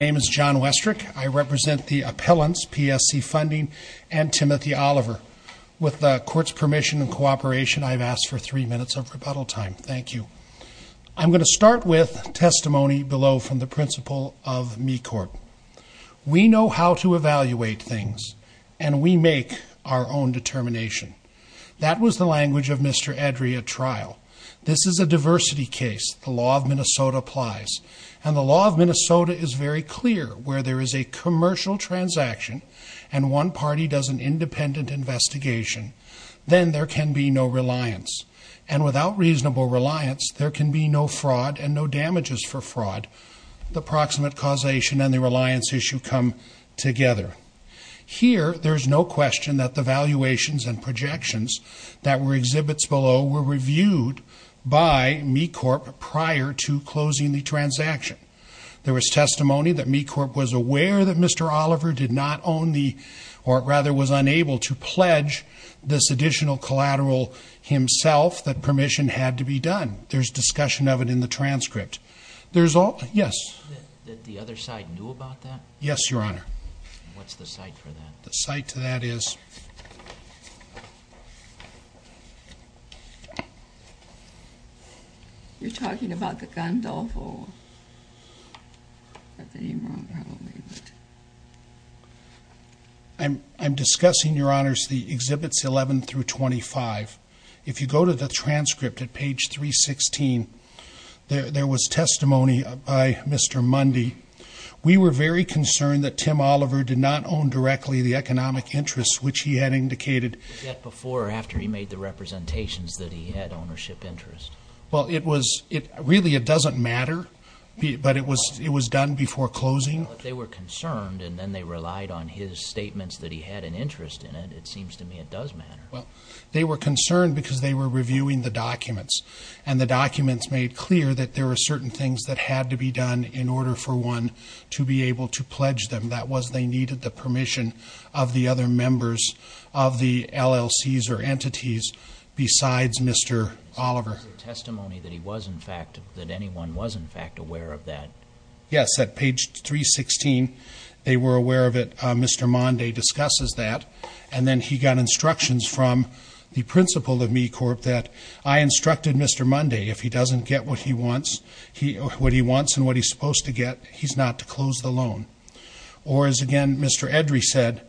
My name is John Westrick. I represent the appellants, PSC Funding, and Timothy Oliver. With the court's permission and cooperation, I've asked for three minutes of rebuttal time. Thank you. I'm going to start with testimony below from the principal of Meecorp. We know how to evaluate things, and we make our own determination. That was the language of Mr. Edry at trial. This is a diversity case. The law of Minnesota applies. And the law of Minnesota is very clear. Where there is a commercial transaction and one party does an independent investigation, then there can be no reliance. And without reasonable reliance, there can be no fraud and no damages for fraud. The proximate causation and the reliance issue come together. Here, there's no question that the valuations and projections that were exhibits below were reviewed by Meecorp prior to closing the transaction. There was testimony that Meecorp was aware that Mr. Oliver did not own the, or rather was unable to pledge this additional collateral himself, that permission had to be done. There's discussion of it in the transcript. There's all, yes? Did the other side knew about that? Yes, Your Honor. What's the site for that? The site to that is? You're talking about the Gandolfo? I'm discussing, Your Honors, the exhibits 11 through 25. If you go to the transcript at page 316, there was testimony by Mr. Mundy. We were very concerned that Tim Oliver did not own directly the economic interests which he had indicated. Yet before or after he made the representations that he had ownership interest. Well, it was, really it doesn't matter, but it was done before closing. But they were concerned and then they relied on his statements that he had an interest in it. It seems to me it does matter. And the documents made clear that there were certain things that had to be done in order for one to be able to pledge them. That was they needed the permission of the other members of the LLCs or entities besides Mr. Oliver. Testimony that he was, in fact, that anyone was, in fact, aware of that. Yes, at page 316, they were aware of it. Mr. Mundy discusses that. And then he got instructions from the principal of MECorp that I instructed Mr. Mundy if he doesn't get what he wants and what he's supposed to get, he's not to close the loan. Or as, again, Mr. Edry said,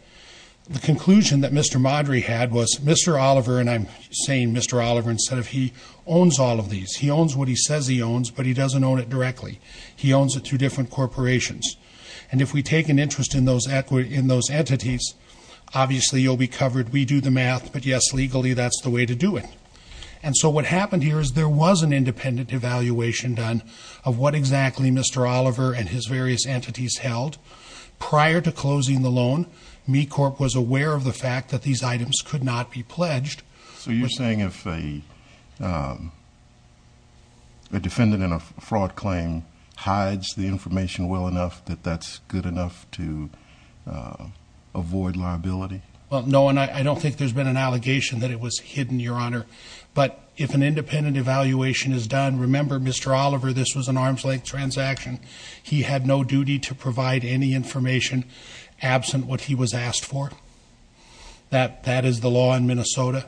the conclusion that Mr. Modry had was Mr. Oliver, and I'm saying Mr. Oliver instead of he owns all of these. He owns what he says he owns, but he doesn't own it directly. He owns it through different corporations. And if we take an interest in those entities, obviously, you'll be covered. We do the math. But, yes, legally, that's the way to do it. And so what happened here is there was an independent evaluation done of what exactly Mr. Oliver and his various entities held. Prior to closing the loan, MECorp was aware of the fact that these items could not be pledged. So you're saying if a defendant in a fraud claim hides the information well enough that that's good enough to avoid liability? Well, no, and I don't think there's been an allegation that it was hidden, Your Honor. But if an independent evaluation is done, remember, Mr. Oliver, this was an arm's-length transaction. He had no duty to provide any information absent what he was asked for. That is the law in Minnesota,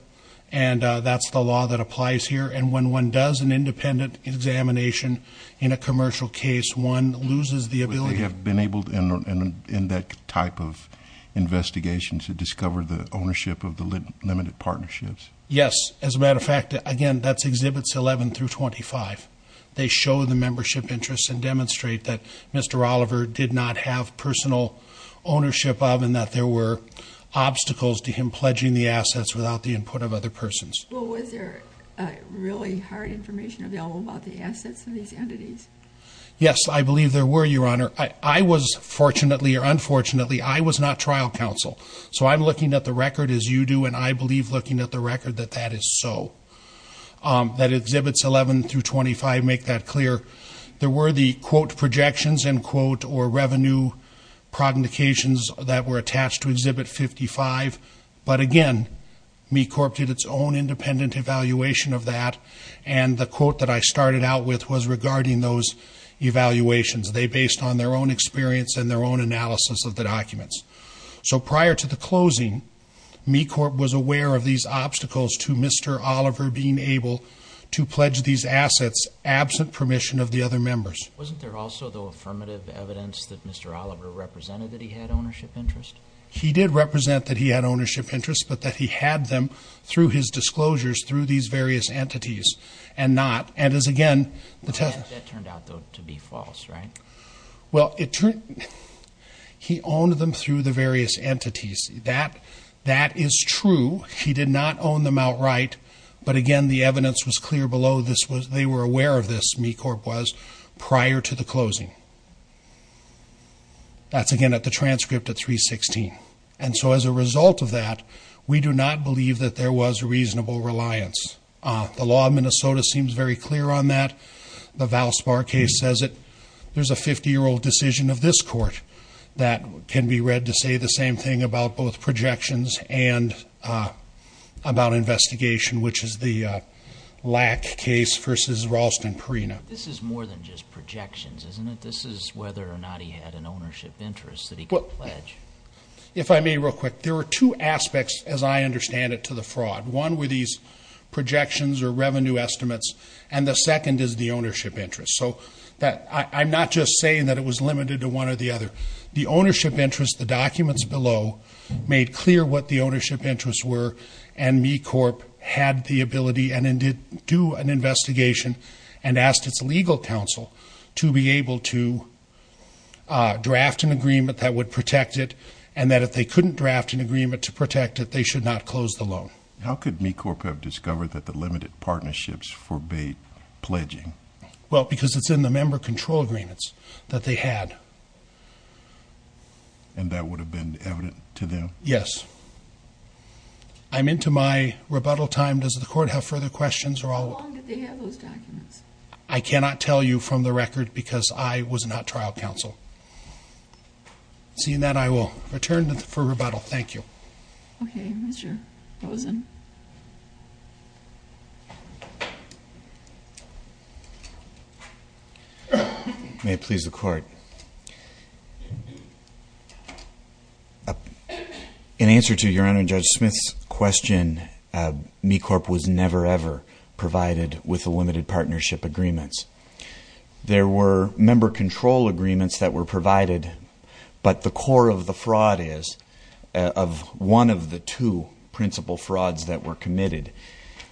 and that's the law that applies here. And when one does an independent examination in a commercial case, one loses the ability. But they have been able, in that type of investigation, to discover the ownership of the limited partnerships? Yes. As a matter of fact, again, that's Exhibits 11 through 25. They show the membership interests and demonstrate that Mr. Oliver did not have personal ownership of and that there were obstacles to him pledging the assets without the input of other persons. Well, was there really hard information available about the assets of these entities? Yes, I believe there were, Your Honor. I was, fortunately or unfortunately, I was not trial counsel. So I'm looking at the record as you do, and I believe, looking at the record, that that is so. That Exhibits 11 through 25 make that clear. There were the, quote, projections, end quote, or revenue prognications that were attached to Exhibit 55. But again, MECorp did its own independent evaluation of that, and the quote that I started out with was regarding those evaluations. They based on their own experience and their own analysis of the documents. So prior to the closing, MECorp was aware of these obstacles to Mr. Oliver being able to pledge these assets absent permission of the other members. Wasn't there also the affirmative evidence that Mr. Oliver represented that he had ownership interests? He did represent that he had ownership interests, but that he had them through his disclosures, through these various entities, and not, and as again, the test. That turned out, though, to be false, right? Well, he owned them through the various entities. That is true. He did not own them outright, but again, the evidence was clear below this. They were aware of this, MECorp was, prior to the closing. That's, again, at the transcript at 316. And so as a result of that, we do not believe that there was reasonable reliance. The law of Minnesota seems very clear on that. The Valspar case says it. There's a 50-year-old decision of this court that can be read to say the same thing about both projections and about investigation, which is the Lack case versus Ralston-Perina. This is more than just projections, isn't it? This is whether or not he had an ownership interest that he could pledge. If I may, real quick, there are two aspects, as I understand it, to the fraud. One were these projections or revenue estimates, and the second is the ownership interest. So I'm not just saying that it was limited to one or the other. The ownership interest, the documents below, made clear what the ownership interests were, and MECorp had the ability and did do an investigation and asked its legal counsel to be able to draft an agreement that would protect it, and that if they couldn't draft an agreement to protect it, they should not close the loan. How could MECorp have discovered that the limited partnerships forbade pledging? Well, because it's in the member control agreements that they had. And that would have been evident to them? Yes. I'm into my rebuttal time. Does the court have further questions? How long did they have those documents? I cannot tell you from the record because I was not trial counsel. Seeing that, I will return for rebuttal. Thank you. Okay. Mr. Rosen. May it please the Court. In answer to Your Honor and Judge Smith's question, MECorp was never, ever provided with the limited partnership agreements. There were member control agreements that were provided, but the core of the fraud is, of one of the two principal frauds that were committed,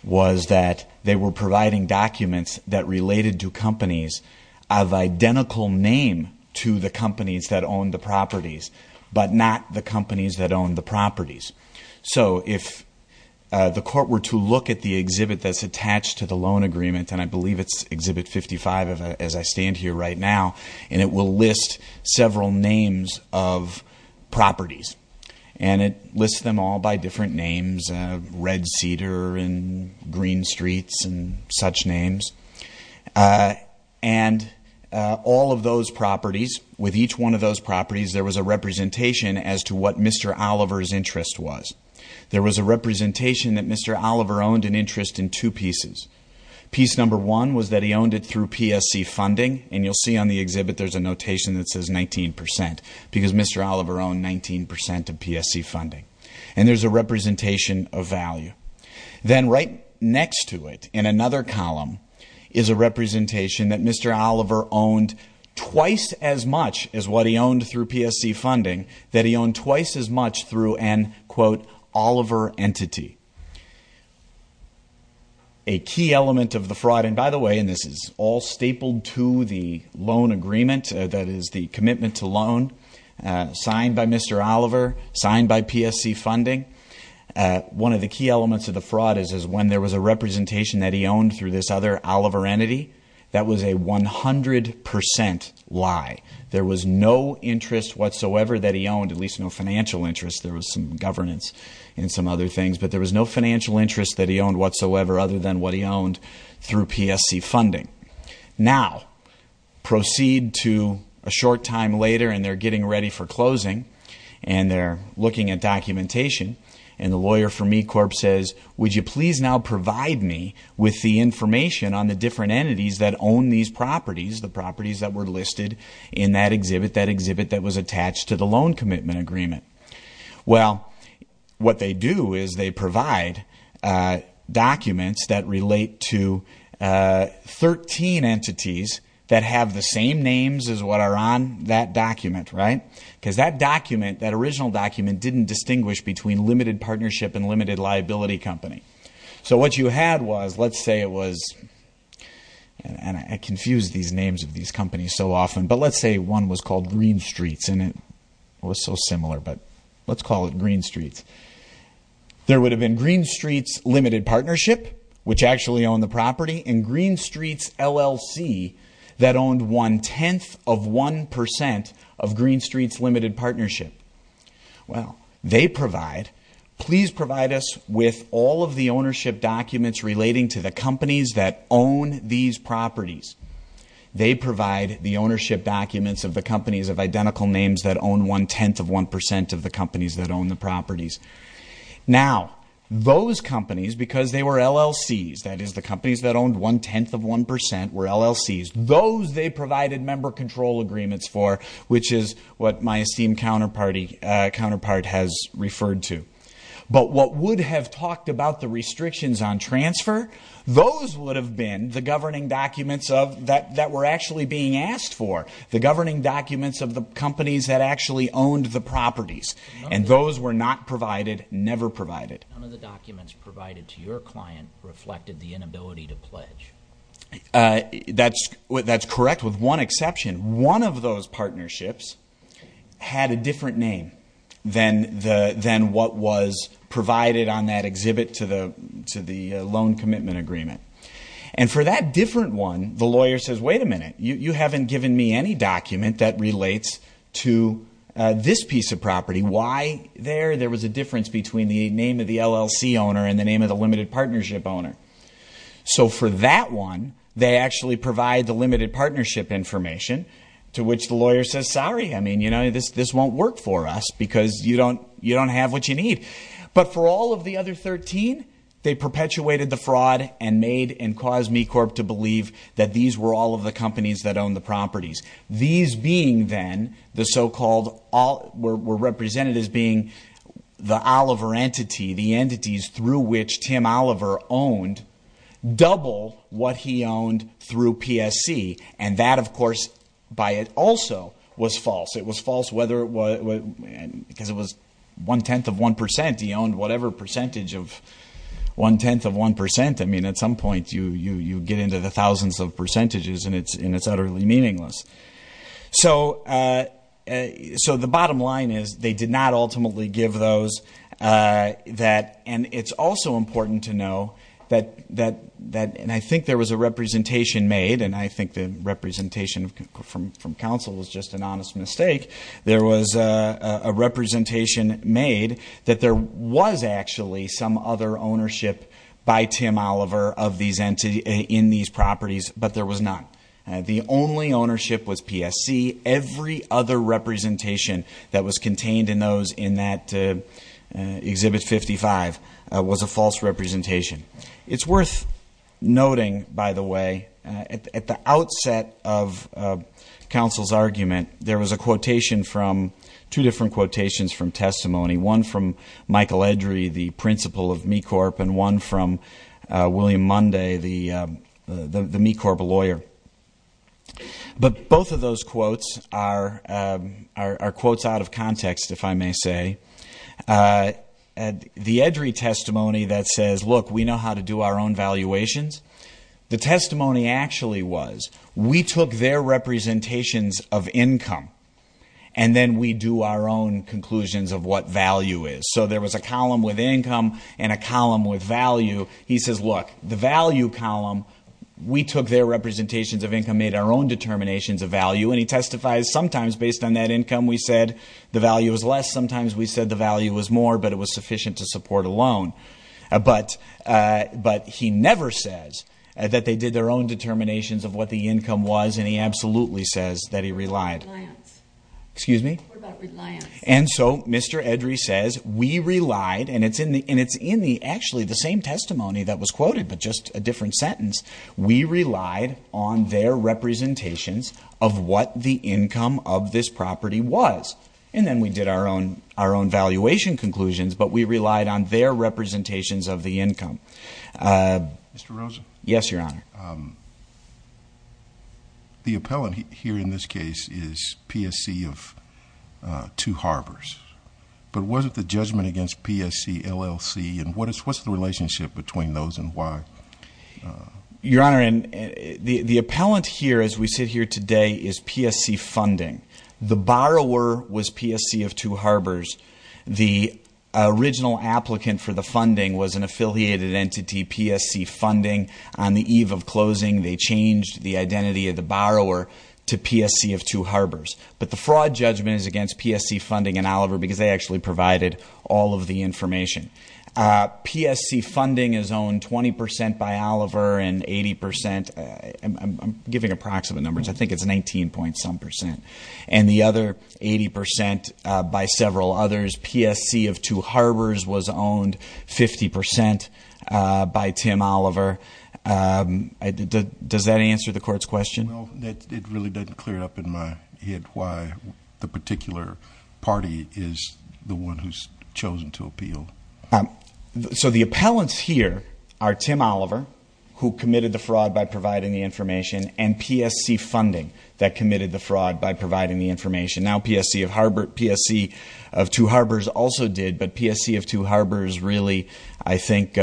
was that they were providing documents that related to companies of identical name to the companies that owned the properties, but not the companies that owned the properties. So if the court were to look at the exhibit that's attached to the loan agreement, and I believe it's exhibit 55 as I stand here right now, and it will list several names of properties. And it lists them all by different names, Red Cedar and Green Streets and such names. And all of those properties, with each one of those properties, there was a representation as to what Mr. Oliver's interest was. There was a representation that Mr. Oliver owned an interest in two pieces. Piece number one was that he owned it through PSC funding, and you'll see on the exhibit there's a notation that says 19%, because Mr. Oliver owned 19% of PSC funding. And there's a representation of value. Then right next to it, in another column, is a representation that Mr. Oliver owned twice as much as what he owned through PSC funding, that he owned twice as much through an, quote, Oliver entity. A key element of the fraud, and by the way, and this is all stapled to the loan agreement, that is the commitment to loan, signed by Mr. Oliver, signed by PSC funding. One of the key elements of the fraud is when there was a representation that he owned through this other Oliver entity, that was a 100% lie. There was no interest whatsoever that he owned, at least no financial interest. There was some governance and some other things, but there was no financial interest that he owned whatsoever other than what he owned through PSC funding. Now, proceed to a short time later, and they're getting ready for closing, and they're looking at documentation, and the lawyer from E-Corp says, would you please now provide me with the information on the different entities that own these properties, the properties that were listed in that exhibit, that exhibit that was attached to the loan commitment agreement? Well, what they do is they provide documents that relate to 13 entities that have the same names as what are on that document, right? Because that document, that original document, didn't distinguish between limited partnership and limited liability company. So what you had was, let's say it was, and I confuse these names of these companies so often, but let's say one was called Green Streets, and it was so similar, but let's call it Green Streets. There would have been Green Streets Limited Partnership, which actually owned the property, and Green Streets LLC, that owned one-tenth of 1% of Green Streets Limited Partnership. Well, they provide, please provide us with all of the ownership documents relating to the companies that own these properties. They provide the ownership documents of the companies of identical names that own one-tenth of 1% of the companies that own the properties. Now, those companies, because they were LLCs, that is, the companies that owned one-tenth of 1% were LLCs, those they provided member control agreements for, which is what my esteemed counterpart has referred to. But what would have talked about the restrictions on transfer, those would have been the governing documents that were actually being asked for, the governing documents of the companies that actually owned the properties, and those were not provided, never provided. None of the documents provided to your client reflected the inability to pledge. That's correct with one exception. One of those partnerships had a different name than what was provided on that exhibit to the loan commitment agreement. And for that different one, the lawyer says, wait a minute, you haven't given me any document that relates to this piece of property. Why there? There was a difference between the name of the LLC owner and the name of the limited partnership owner. So for that one, they actually provide the limited partnership information to which the lawyer says, sorry, I mean, you know, this won't work for us because you don't have what you need. But for all of the other 13, they perpetuated the fraud and made and caused MeCorp to believe that these were all of the companies that owned the properties. These being then the so-called, were represented as being the Oliver entity, the entities through which Tim Oliver owned double what he owned through PSC. And that, of course, by it also was false. It was false because it was one-tenth of one percent. He owned whatever percentage of one-tenth of one percent. I mean, at some point you get into the thousands of percentages and it's utterly meaningless. So the bottom line is they did not ultimately give those. And it's also important to know that, and I think there was a representation made, and I think the representation from counsel was just an honest mistake. There was a representation made that there was actually some other ownership by Tim Oliver of these entities, in these properties, but there was none. The only ownership was PSC. Every other representation that was contained in those in that Exhibit 55 was a false representation. It's worth noting, by the way, at the outset of counsel's argument, there was a quotation from two different quotations from testimony, one from Michael Edry, the principal of MeCorp, and one from William Munday, the MeCorp lawyer. But both of those quotes are quotes out of context, if I may say. The Edry testimony that says, look, we know how to do our own valuations, the testimony actually was we took their representations of income and then we do our own conclusions of what value is. So there was a column with income and a column with value. He says, look, the value column, we took their representations of income, made our own determinations of value, and he testifies sometimes based on that income we said the value was less, sometimes we said the value was more, but it was sufficient to support a loan. But he never says that they did their own determinations of what the income was, and he absolutely says that he relied. What about reliance? And so Mr. Edry says we relied, and it's in the actually the same testimony that was quoted, but just a different sentence, we relied on their representations of what the income of this property was. And then we did our own valuation conclusions, but we relied on their representations of the income. Mr. Rosen? Yes, Your Honor. The appellant here in this case is PSC of Two Harbors, but was it the judgment against PSC LLC, and what's the relationship between those and why? Your Honor, the appellant here as we sit here today is PSC funding. The borrower was PSC of Two Harbors. The original applicant for the funding was an affiliated entity, PSC funding. On the eve of closing, they changed the identity of the borrower to PSC of Two Harbors. But the fraud judgment is against PSC funding and Oliver because they actually provided all of the information. PSC funding is owned 20% by Oliver and 80%, I'm giving approximate numbers, I think it's 19 point some percent. And the other 80% by several others. PSC of Two Harbors was owned 50% by Tim Oliver. Does that answer the court's question? Well, it really doesn't clear up in my head why the particular party is the one who's chosen to appeal. So the appellants here are Tim Oliver, who committed the fraud by providing the information, and PSC funding that committed the fraud by providing the information. Now, PSC of Two Harbors also did, but PSC of Two Harbors really, I think,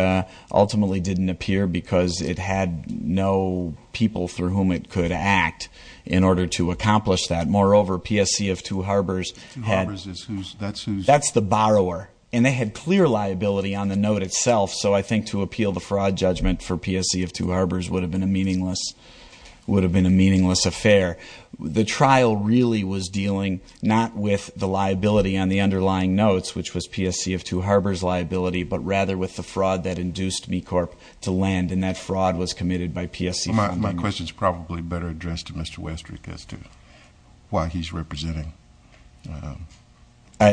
ultimately didn't appear because it had no people through whom it could act in order to accomplish that. Moreover, PSC of Two Harbors had- Two Harbors, that's who's- So I think to appeal the fraud judgment for PSC of Two Harbors would have been a meaningless affair. The trial really was dealing not with the liability on the underlying notes, which was PSC of Two Harbors liability, but rather with the fraud that induced MeCorp to lend, and that fraud was committed by PSC funding. My question's probably better addressed to Mr. Westrick as to why he's representing Two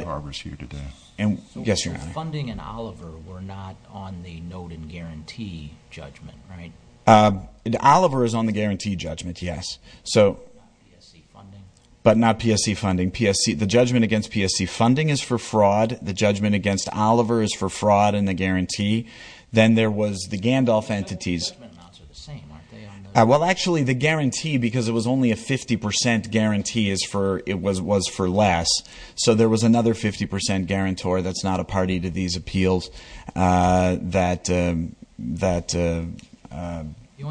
Harbors here today. Yes, Your Honor. So funding and Oliver were not on the note and guarantee judgment, right? Oliver is on the guarantee judgment, yes. So- Not PSC funding? But not PSC funding. The judgment against PSC funding is for fraud. The judgment against Oliver is for fraud and the guarantee. Then there was the Gandalf entities- The judgment amounts are the same, aren't they? Well, actually, the guarantee, because it was only a 50% guarantee, it was for less. So there was another 50% guarantor that's not a party to these appeals that,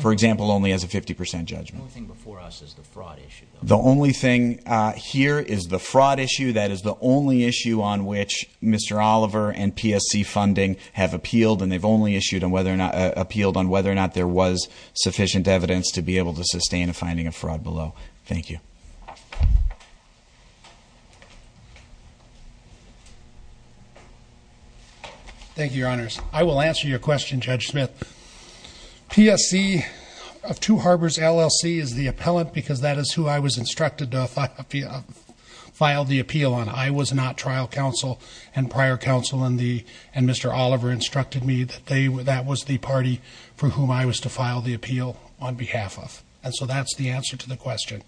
for example, only has a 50% judgment. The only thing before us is the fraud issue, though. The only thing here is the fraud issue. That is the only issue on which Mr. Oliver and PSC funding have appealed, and they've only appealed on whether or not there was sufficient evidence to be able to sustain a finding of fraud below. Thank you. Thank you, Your Honors. I will answer your question, Judge Smith. PSC of Two Harbors LLC is the appellant because that is who I was instructed to file the appeal on. I was not trial counsel and prior counsel, and Mr. Oliver instructed me that that was the party for whom I was to file the appeal on behalf of. And so that's the answer to the question.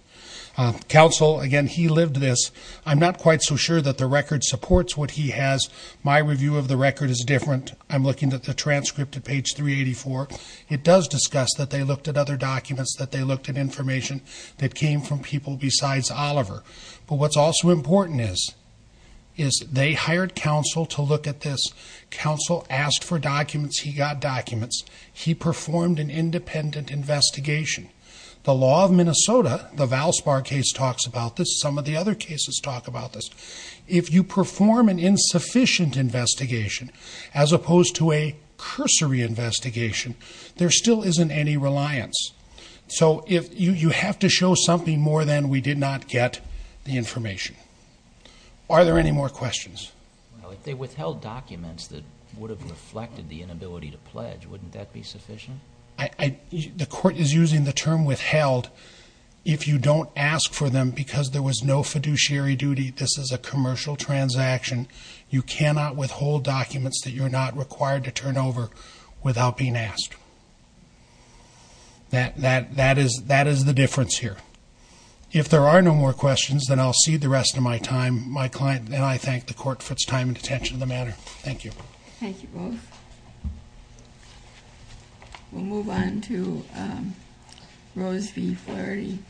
Counsel, again, he lived this. I'm not quite so sure that the record supports what he has. My review of the record is different. I'm looking at the transcript at page 384. It does discuss that they looked at other documents, that they looked at information that came from people besides Oliver. But what's also important is they hired counsel to look at this. Counsel asked for documents. He got documents. He performed an independent investigation. The law of Minnesota, the Valspar case talks about this. Some of the other cases talk about this. If you perform an insufficient investigation as opposed to a cursory investigation, there still isn't any reliance. So you have to show something more than we did not get the information. Are there any more questions? Well, if they withheld documents that would have reflected the inability to pledge, wouldn't that be sufficient? The court is using the term withheld. If you don't ask for them because there was no fiduciary duty, this is a commercial transaction. You cannot withhold documents that you're not required to turn over without being asked. That is the difference here. If there are no more questions, then I'll cede the rest of my time. My client and I thank the court for its time and attention to the matter. Thank you. Thank you both. We'll move on to Rose v. Flurry.